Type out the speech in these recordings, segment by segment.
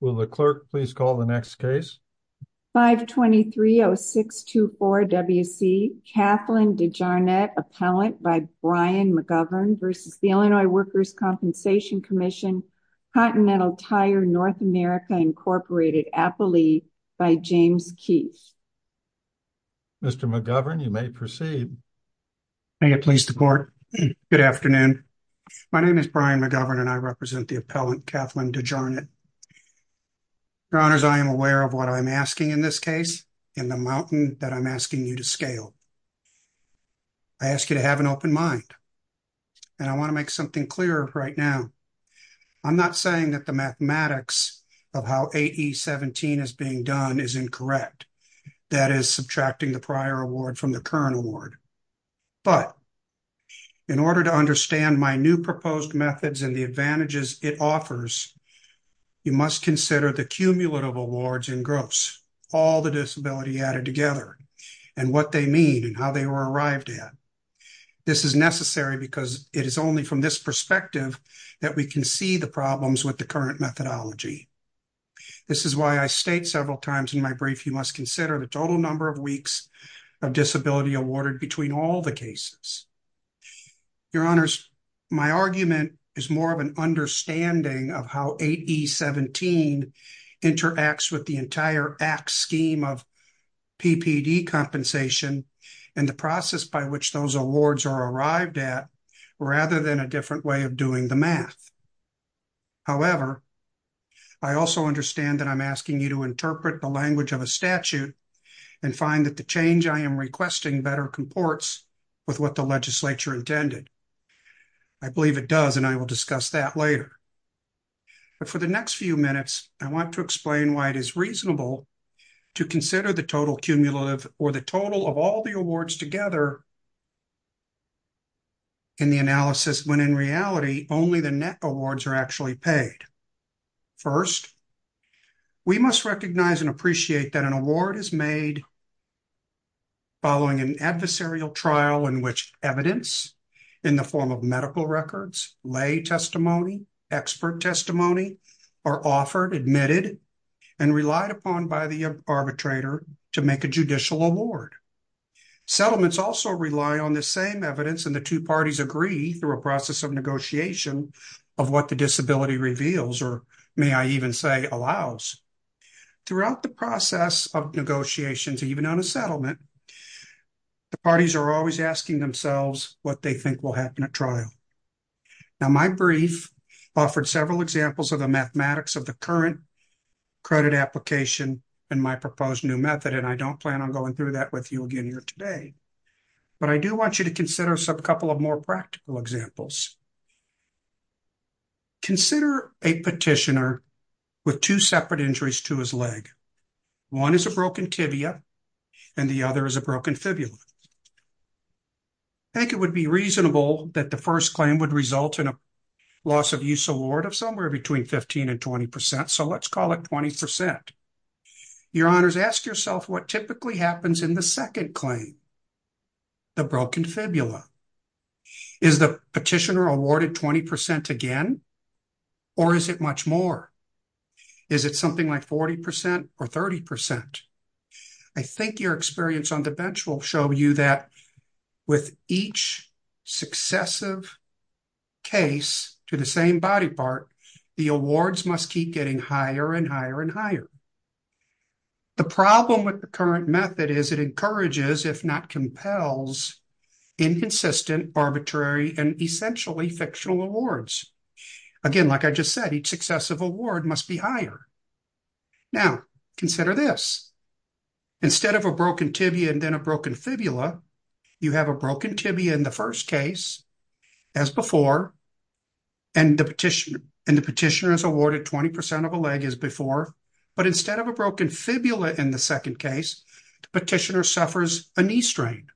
Will the clerk please call the next case? 523-0624-WC, Kathleen De Jarnatt, appellant by Brian McGovern v. Illinois Workers' Compensation Comm'n, Continental Tire, North America, Inc., Appalee, by James Keith. Mr. McGovern, you may proceed. May it please the court. Good afternoon. My name is Brian Kathleen De Jarnatt. Your honors, I am aware of what I'm asking in this case, in the mountain that I'm asking you to scale. I ask you to have an open mind, and I want to make something clear right now. I'm not saying that the mathematics of how 8E-17 is being done is incorrect, that is, subtracting the prior award from the current award. But in order to understand my new proposed methods and the advantages it offers, you must consider the cumulative awards in gross, all the disability added together, and what they mean and how they were arrived at. This is necessary because it is only from this perspective that we can see the problems with the current methodology. This is why I state several times in my brief, you must consider the total number of weeks of disability awarded between all the cases. Your honors, my argument is more of an understanding of how 8E-17 interacts with the entire act scheme of PPD compensation and the process by which those awards are arrived at, rather than a different way of doing the math. However, I also understand that I'm asking you to interpret the language of a statute and find that the change I am requesting better comports with what the legislature intended. I believe it does, and I will discuss that later. But for the next few minutes, I want to explain why it is reasonable to consider the total cumulative or the total of all the awards together in the analysis, when in reality, only the net awards are actually paid. First, we must recognize and appreciate that an award is made following an adversarial trial in which evidence in the form of medical records, lay testimony, expert testimony are offered, admitted, and relied upon by the arbitrator to make a judicial award. Settlements also rely on the same evidence and the two parties agree through a process of negotiation of what the disability reveals, or may I even say allows. Throughout the process of negotiations, even on a settlement, the parties are always asking themselves what they think will happen at trial. Now, my brief offered several examples of the mathematics of the current credit application and my proposed new method, and I don't plan on going through that with you today, but I do want you to consider a couple of more practical examples. Consider a petitioner with two separate injuries to his leg. One is a broken tibia, and the other is a broken fibula. I think it would be reasonable that the first claim would result in a loss of use award of somewhere between 15 and 20 percent, so let's call it 20 percent. Your honors, ask yourself what typically happens in the second claim, the broken fibula. Is the petitioner awarded 20 percent again, or is it much more? Is it something like 40 percent or 30 percent? I think your experience on the bench will show you that with each successive case to the same body part, the awards must keep getting higher and higher and higher. The problem with the current method is it encourages, if not compels, inconsistent, arbitrary, and essentially fictional awards. Again, like I just said, each successive award must be higher. Now, consider this. Instead of a broken tibia and then a broken fibula, you have a broken tibia in the first case as before, and the petitioner is awarded 20 percent of a leg as before, but instead of a broken fibula in the second case, the petitioner suffers a knee strain.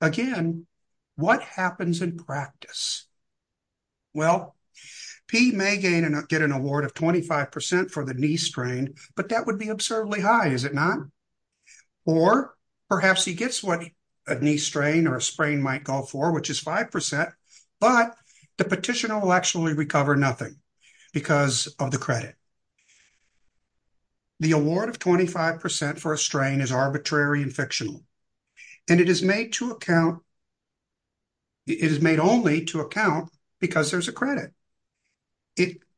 Again, what happens in practice? Well, he may gain and get an award of 25 percent for the knee strain, but that would be absurdly high, is it not? Or perhaps he gets what a knee strain or a sprain might go for, which is 5 percent, but the petitioner will actually recover nothing because of the credit. The award of 25 percent for a strain is arbitrary and fictional, and it is made to account, it is made only to account, because there's a credit.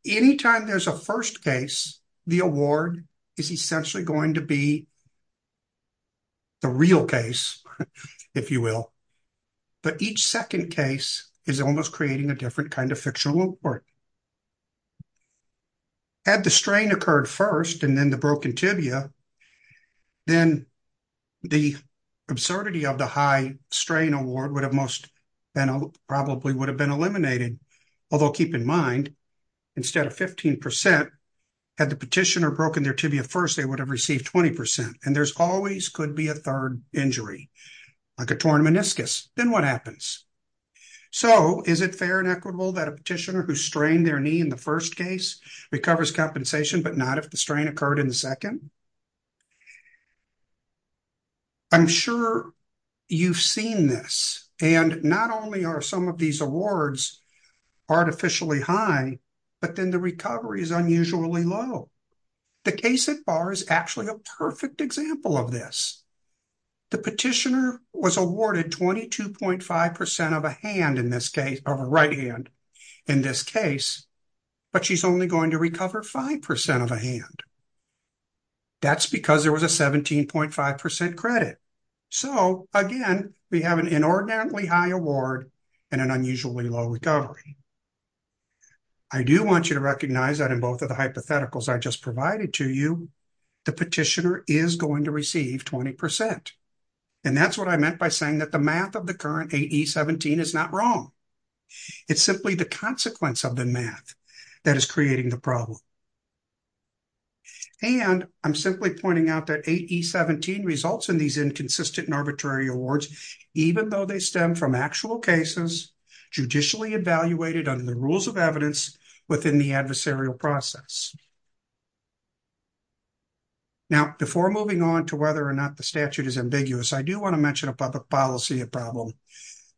Anytime there's a first case, the award is essentially going to be the real case, if you will, but each second case is almost creating a different kind of fictional award. Had the strain occurred first and then the broken tibia, then the absurdity of the high strain award would have most probably would have been eliminated, although keep in mind, instead of 15 percent, had the petitioner broken their tibia first, they would have received 20 percent, and there's always could be a third injury, like a torn meniscus. Then what happens? So, is it fair and equitable that a petitioner who strained their knee in the first case recovers compensation, but not if the strain occurred in the second? I'm sure you've seen this, and not only are some of these awards artificially high, but then the recovery is unusually low. The case at bar is actually a perfect example of this. The petitioner was awarded 22.5 percent of a hand in this case, of a right hand in this case, but she's only going to recover five percent of a hand. That's because there was a 17.5 percent credit. So, again, we have an inordinately high award and an unusually low recovery. I do want you to recognize that in both of the hypotheticals I just provided to you, the petitioner is going to receive 20 percent, and that's what I meant by saying that the math of the current 8E17 is not wrong. It's simply the consequence of the math that is creating the problem, and I'm simply pointing out that 8E17 results in these inconsistent arbitrary awards, even though they stem from actual cases, judicially evaluated under the rules of evidence within the adversarial process. Now, before moving on to whether or not the statute is ambiguous, I do want to mention a public policy problem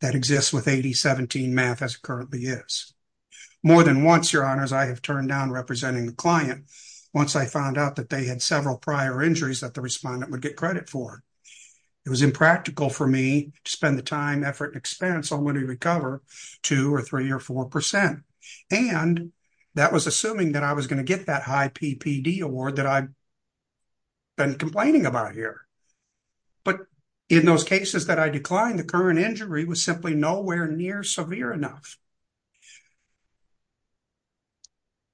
that exists with 8E17 math as it currently is. More than once, your honors, I have turned down representing the client once I found out that they had several prior injuries that the respondent would get credit for. It was impractical for me to spend the time, effort, and expense on when we recover two or three or four percent, and that was assuming that I was going to get that high PPD award that I've been complaining about here. But in those cases that I declined, the current injury was simply nowhere near severe enough.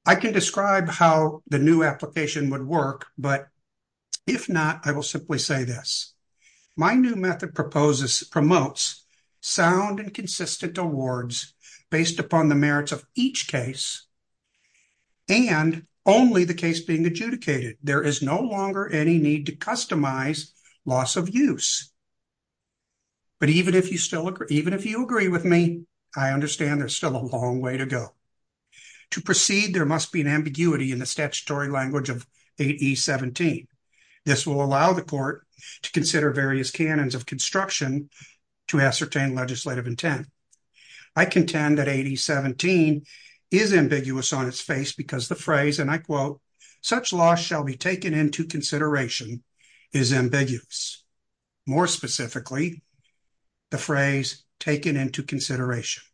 I can describe how the new method works. If not, I will simply say this. My new method proposes, promotes sound and consistent awards based upon the merits of each case and only the case being adjudicated. There is no longer any need to customize loss of use. But even if you still agree, even if you agree with me, I understand there's still a long way to go. To proceed, there must be an ambiguity in the court. This will allow the court to consider various canons of construction to ascertain legislative intent. I contend that 8E17 is ambiguous on its face because the phrase, and I quote, such loss shall be taken into consideration is ambiguous. More specifically, the phrase taken into consideration.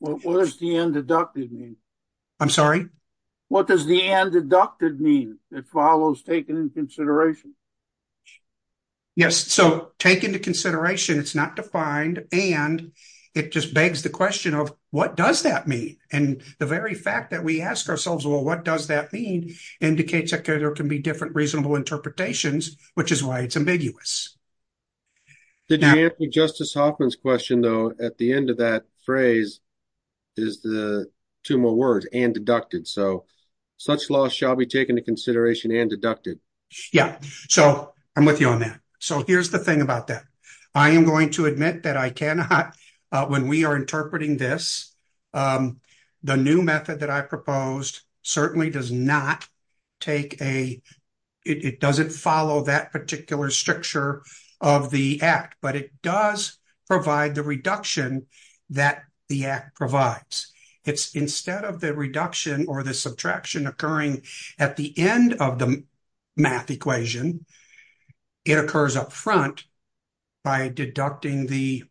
What does the undeducted mean? I'm sorry? What does the undeducted mean that follows taken into consideration? Yes. So taken into consideration, it's not defined, and it just begs the question of what does that mean? And the very fact that we ask ourselves, well, what does that mean, indicates that there can be different reasonable interpretations, which is why it's ambiguous. Did you answer Justice Hoffman's question, though, at the end of that phrase is the two more words, and deducted. So such loss shall be taken into consideration and deducted. Yeah. So I'm with you on that. So here's the thing about that. I am going to admit that I cannot, when we are interpreting this, the new method that I proposed certainly does not take a, it doesn't follow that particular stricture of the act, but it does provide the reduction that the act provides. It's instead of the reduction or the subtraction occurring at the end of the math equation, it occurs up front by deducting the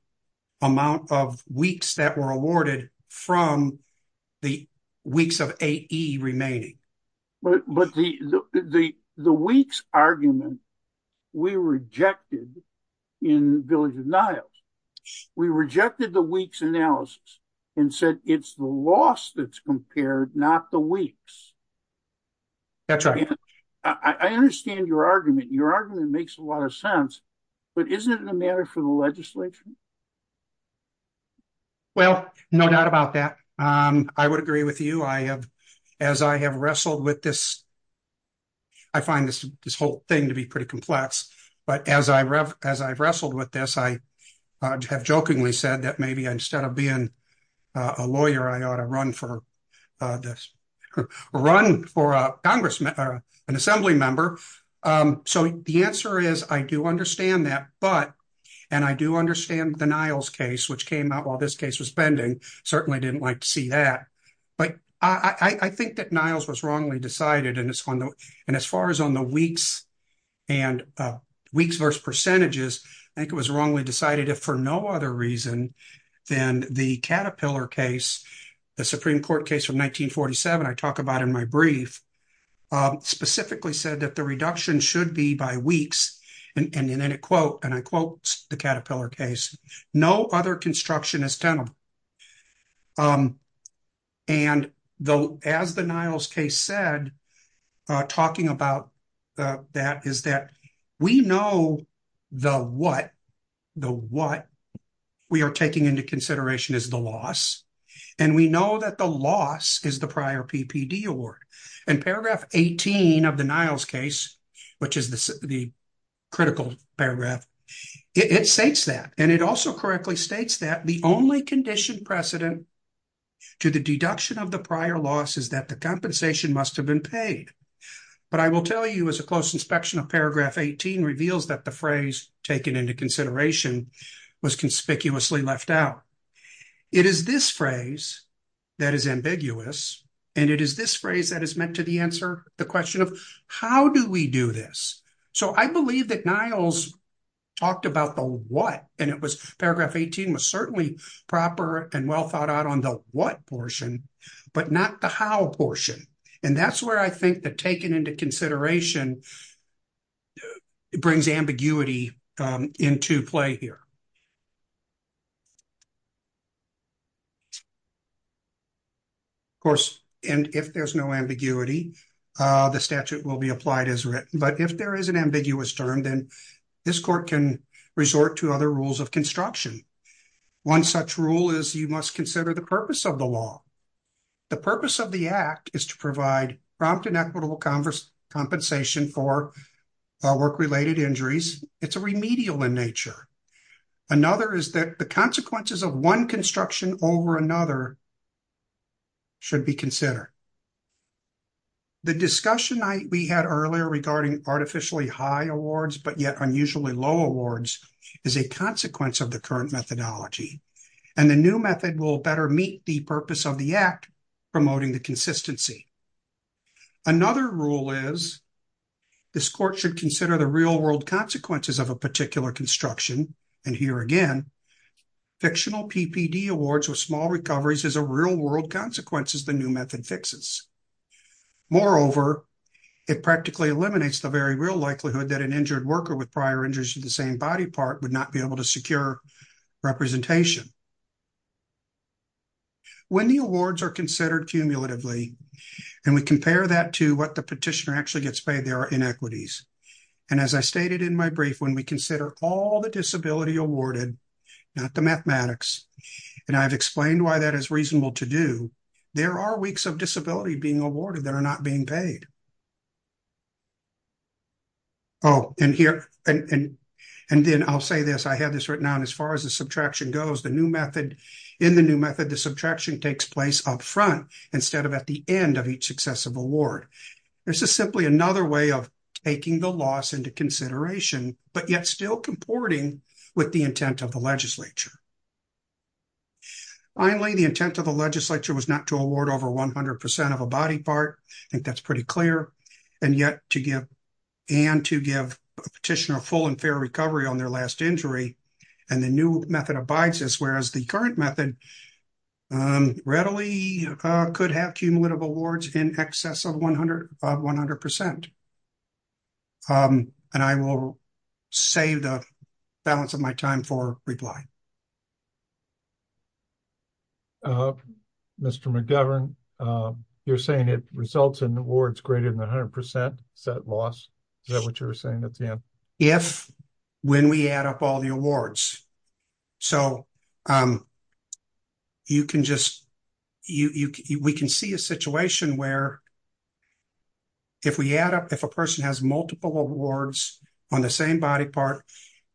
amount of weeks that were awarded from the weeks of 8E remaining. But the weeks argument, we rejected in Village of Niles. We rejected the weeks analysis and said it's the loss that's compared, not the weeks. That's right. I understand your argument. Your argument makes a lot of sense, but isn't it a matter for the legislature? Well, no doubt about that. I would agree with you. I find this whole thing to be pretty complex, but as I've wrestled with this, I have jokingly said that maybe instead of being a lawyer, I ought to run for an assembly member. So the answer is, I do understand that, but, and I do understand the Niles case, which came out while this case was pending, certainly didn't like to see that. But I think that Niles was wrongly decided, and as far as on the weeks and weeks versus percentages, I think it was wrongly decided if for no other reason than the Caterpillar case, the Supreme Court case from 1947 I talk about in my brief, specifically said that the reduction should be by weeks. And then it quote, and I quote the Caterpillar case, no other construction is tenable. And though as the Niles case said, talking about that is that we know the what, the what we are taking into consideration is the loss, and we know that the loss is the prior PPD award. And paragraph 18 of the Niles case, which is the critical paragraph, it states that, and it also correctly states that the only I will tell you as a close inspection of paragraph 18 reveals that the phrase taken into consideration was conspicuously left out. It is this phrase that is ambiguous, and it is this phrase that is meant to the answer the question of how do we do this? So I believe that Niles talked about the what, and it was paragraph 18 was certainly proper and well thought out on the what portion, but not the how portion. And that's where I think the taken into consideration brings ambiguity into play here. Of course, and if there's no ambiguity, the statute will be applied as written. But if there is an ambiguous term, then this court can resort to other rules of construction. One such rule is you must consider the purpose of the law. The purpose of the act is to provide prompt and equitable compensation for work-related injuries. It's a remedial in nature. Another is that the consequences of one construction over another should be considered. The discussion we had earlier regarding artificially high awards, but yet unusually low awards is a consequence of the current methodology, and the new method will better meet the purpose of the act, promoting the consistency. Another rule is this court should consider the real-world consequences of a particular construction. And here again, fictional PPD awards with small recoveries is a real-world consequence as the new method fixes. Moreover, it practically eliminates the very real likelihood that an injured worker with prior the same body part would not be able to secure representation. When the awards are considered cumulatively, and we compare that to what the petitioner actually gets paid, there are inequities. And as I stated in my brief, when we consider all the disability awarded, not the mathematics, and I've explained why that is reasonable to do, there are weeks of disability being awarded that are not being paid. Oh, and here, and then I'll say this, I had this written down, as far as the subtraction goes, the new method, in the new method, the subtraction takes place up front, instead of at the end of each successive award. This is simply another way of taking the loss into consideration, but yet still comporting with the intent of the legislature. Finally, the intent of the legislature was not to award over 100% of a body part. I think that's pretty clear. And yet, to give, and to give a petitioner a full and fair recovery on their last injury, and the new method abides this, whereas the current method readily could have cumulative awards in excess of 100%. And I will save the balance of my time for reply. Mr. McGovern, you're saying it results in awards greater than 100%. Is that what you're saying at the end? If, when we add up all the awards. So, you can just, we can see a situation where if we add up, if a person has multiple awards on the same body part,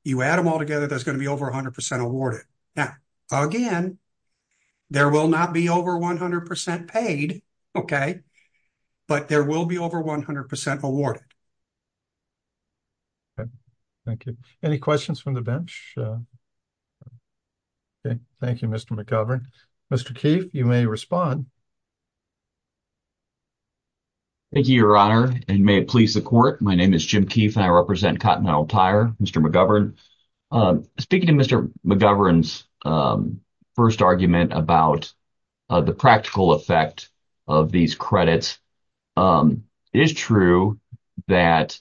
you add them all up, you get 100% awarded. Now, again, there will not be over 100% paid, okay, but there will be over 100% awarded. Thank you. Any questions from the bench? Okay, thank you, Mr. McGovern. Mr. Keefe, you may respond. Thank you, your honor, and may it please the court. My name is Jim Keefe and I represent Cotton McGovern's first argument about the practical effect of these credits. It is true that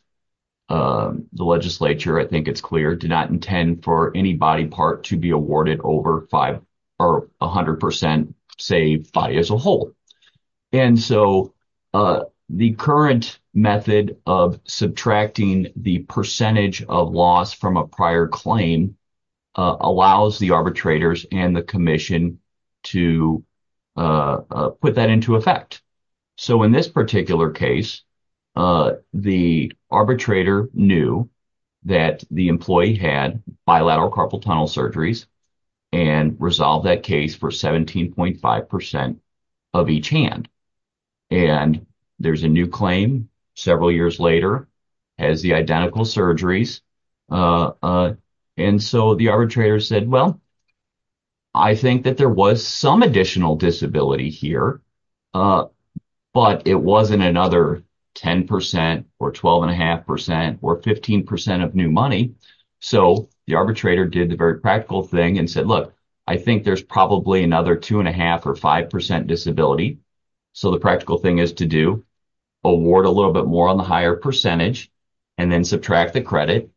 the legislature, I think it's clear, did not intend for any body part to be awarded over five or 100% say body as a whole. And so, the current method of subtracting the percentage of loss from a prior claim allows the arbitrators and the commission to put that into effect. So, in this particular case, the arbitrator knew that the employee had bilateral carpal tunnel surgeries and resolved that case for 17.5% of each hand. And there's a new claim several years later has the identical surgeries. And so, the arbitrator said, well, I think that there was some additional disability here, but it wasn't another 10% or 12.5% or 15% of new money. So, the arbitrator did the very practical thing and said, look, I think there's probably another two and a half or 5% disability. So, the practical thing is to do award a little bit more on the higher percentage and then subtract the credit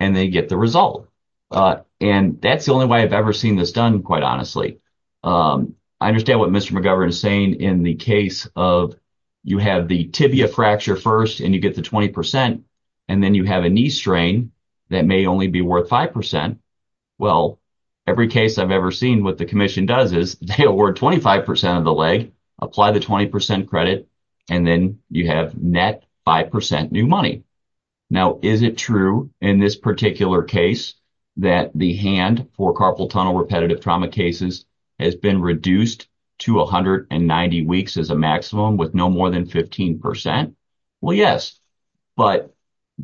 and they get the result. And that's the only way I've ever seen this done, quite honestly. I understand what Mr. McGovern is saying in the case of you have the tibia fracture first and you get the 20% and then you have a knee strain that may only be worth 5%. Well, every case I've ever seen, what the commission does is they award 25% of the leg, apply the 20% credit and then you have net 5% new money. Now, is it true in this particular case that the hand for carpal tunnel repetitive trauma cases has been reduced to 190 weeks as a maximum with no more than 15%? Well, yes, but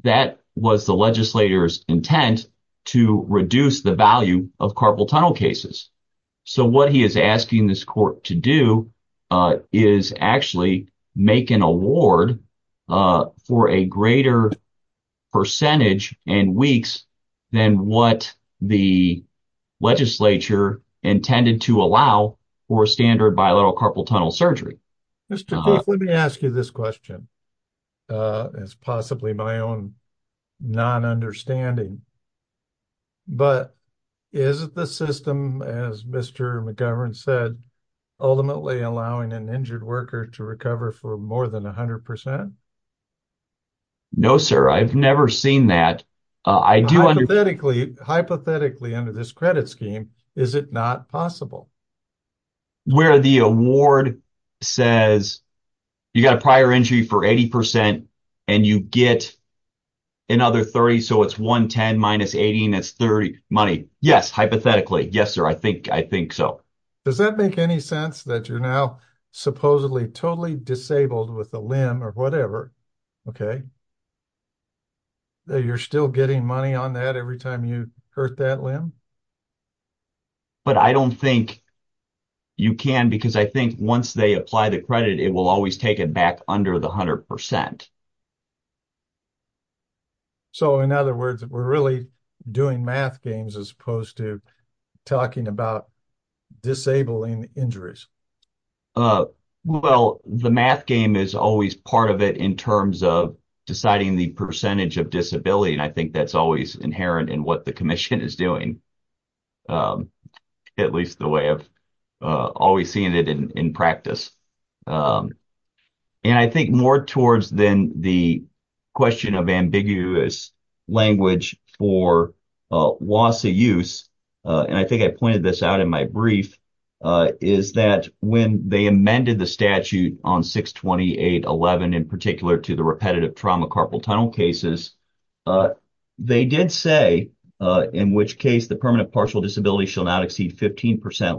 that was the legislator's intent to reduce the value of carpal tunnel cases. So, what he is asking this court to do is actually make an award for a greater percentage and weeks than what the legislature intended to allow for standard bilateral carpal tunnel surgery. Mr. Goof, let me ask you this question. It's possibly my own non-understanding, but is the system, as Mr. McGovern said, ultimately allowing an injured worker to recover for more than 100%? No, sir, I've never seen that. I do. Hypothetically under this credit scheme, is it not possible? Where the award says you got a prior injury for 80% and you get another 30, so it's 110 minus 80 and that's 30 money. Yes, hypothetically. Yes, sir, I think so. Does that make any sense that you're now supposedly totally disabled with a limb or whatever, okay, that you're still getting money on that every time you hurt that limb? But I don't think you can because I think once they apply the credit, it will always take it back under the 100%. So, in other words, we're really doing math games as opposed to talking about disabling injuries. Well, the math game is always part of it in terms of deciding the percentage of disability and I think that's always inherent in what the commission is doing, at least the way of always seeing it in practice. And I think more towards then the question of ambiguous language for loss of use, and I think I pointed this out in my brief, is that when they amended the statute on 628.11 in particular to the repetitive trauma carpal tunnel cases, they did say in which case the permanent partial disability should not exceed 28.5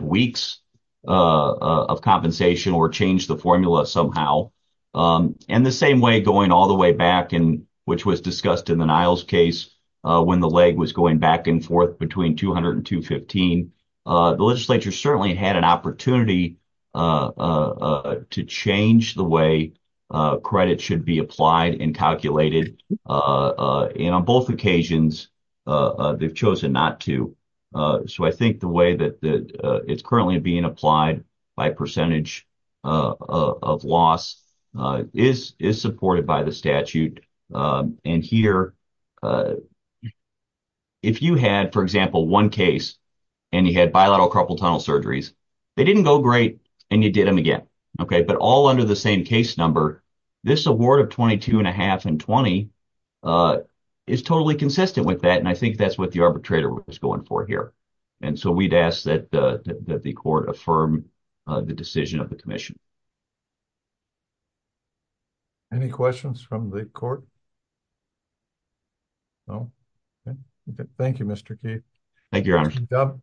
weeks of compensation or change the formula somehow. And the same way going all the way back and which was discussed in the Niles case when the leg was going back and forth between 200 and 215, the legislature certainly had an opportunity to change the way credit should be applied and calculated. And on both occasions, they've chosen not to. So, I think the way that it's currently being applied by percentage of loss is supported by the statute. And here, if you had, for example, one case and you had bilateral carpal tunnel surgeries, they didn't go great and you did them again, okay, but all under the same case number, this award of 22.5 and 20 is totally consistent with that and I think that's what the arbitrator was going for here. And so, we'd ask that the court affirm the decision of the commission. Any questions from the court? No? Okay. Thank you, Mr. Keith. Thank you, Your Honor.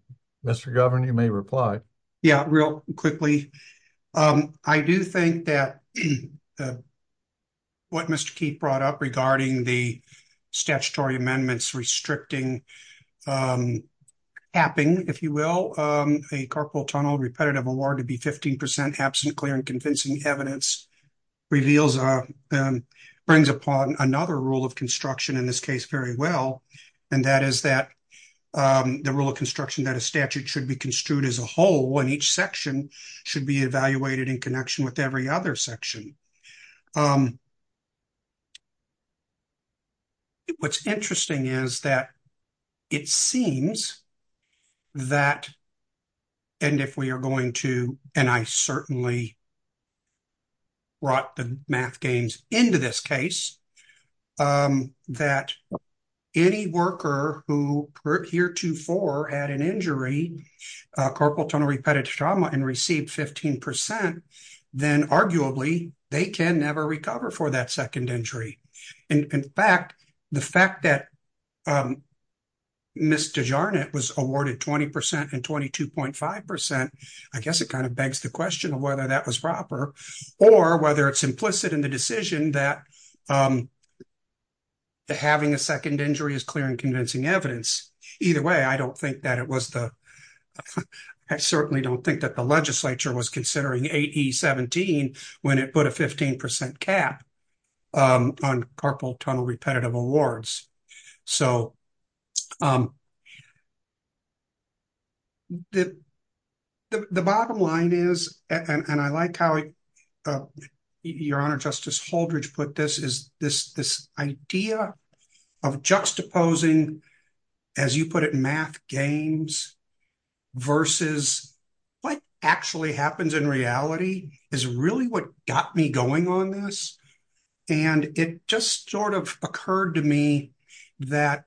Mr. Governor, you may reply. Yeah, real quickly. I do think that what Mr. Keith brought up regarding the statutory amendments restricting tapping, if you will, a carpal tunnel repetitive award to be 15% absent clear and convincing evidence reveals, brings upon another rule of construction in this case very well. And that is that the rule of construction that a statute should be construed as a whole and each section should be evaluated in connection with every other section. What's interesting is that it seems that, and if we are going to, and I certainly brought the math games into this case, that any worker who heretofore had an injury, carpal tunnel repetitive trauma and received 15%, then arguably they can never recover for that second injury. In fact, the fact that Ms. DeJarnett was awarded 20% and 22.5%, I guess it kind of begs the question of whether that was proper or whether it's implicit in the decision that having a second injury is clear and convincing evidence. Either way, I don't think that it was the, I certainly don't think that the legislature was considering 8E17 when it put a 15% cap on carpal tunnel repetitive awards. So the bottom line is, and I like how your Honor Justice Holdridge put this, is this idea of juxtaposing, as you put it, math games versus what actually happens in reality is really what got me going on this. And it just sort of occurred to me that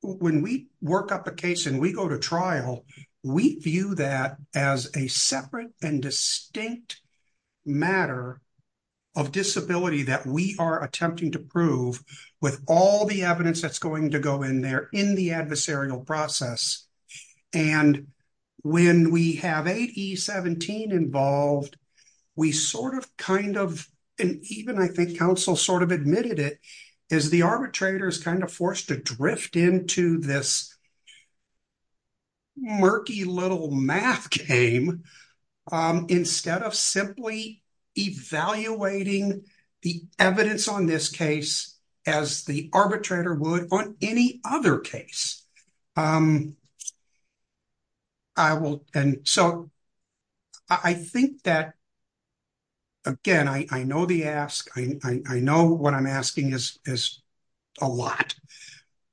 when we work up a case and we go to trial, we view that as a separate and distinct matter of disability that we are attempting to prove with all the evidence that's going to go in there in the adversarial process. And when we have 8E17 involved, we sort of kind of, and even I think counsel sort of admitted it, is the arbitrator is kind of forced to drift into this murky little math game instead of simply evaluating the evidence on this case as the arbitrator would on any other case. I will, and so I think that, again, I know the ask, I know what I'm asking is a lot,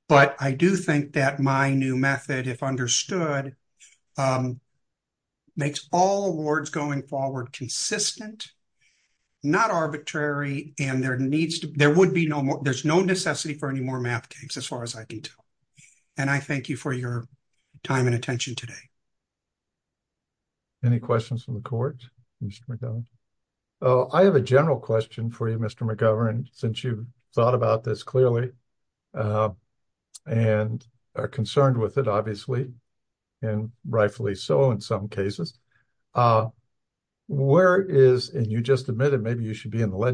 but I do think that my new method, if understood, makes all awards going forward consistent, not arbitrary, and there needs to, there would be no more, there's no necessity for any more math games as far as I can tell. And I thank you for your time and attention today. Any questions from the court, Mr. McGovern? I have a general question for you, Mr. McGovern, since you've thought about this clearly and are concerned with it, obviously, and rightfully so in some cases. Where is, and you just admitted maybe you should be in the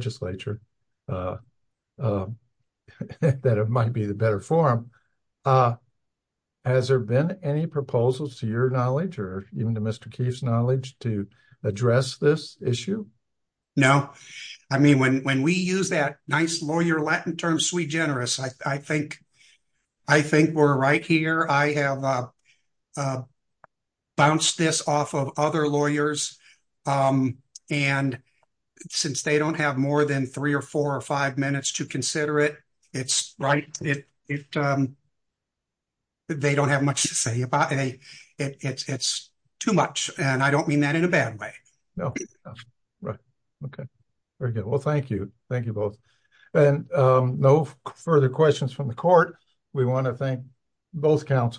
better forum, has there been any proposals to your knowledge or even to Mr. Keefe's knowledge to address this issue? No. I mean, when we use that nice lawyer Latin term, sui generis, I think we're right here. I have bounced this off of other lawyers, and since they don't have more than three or four or five minutes to consider it, it's right. They don't have much to say about it. It's too much. And I don't mean that in a bad way. No. Right. Okay. Very good. Well, thank you. Thank you both. And no further questions from the court. We want to thank both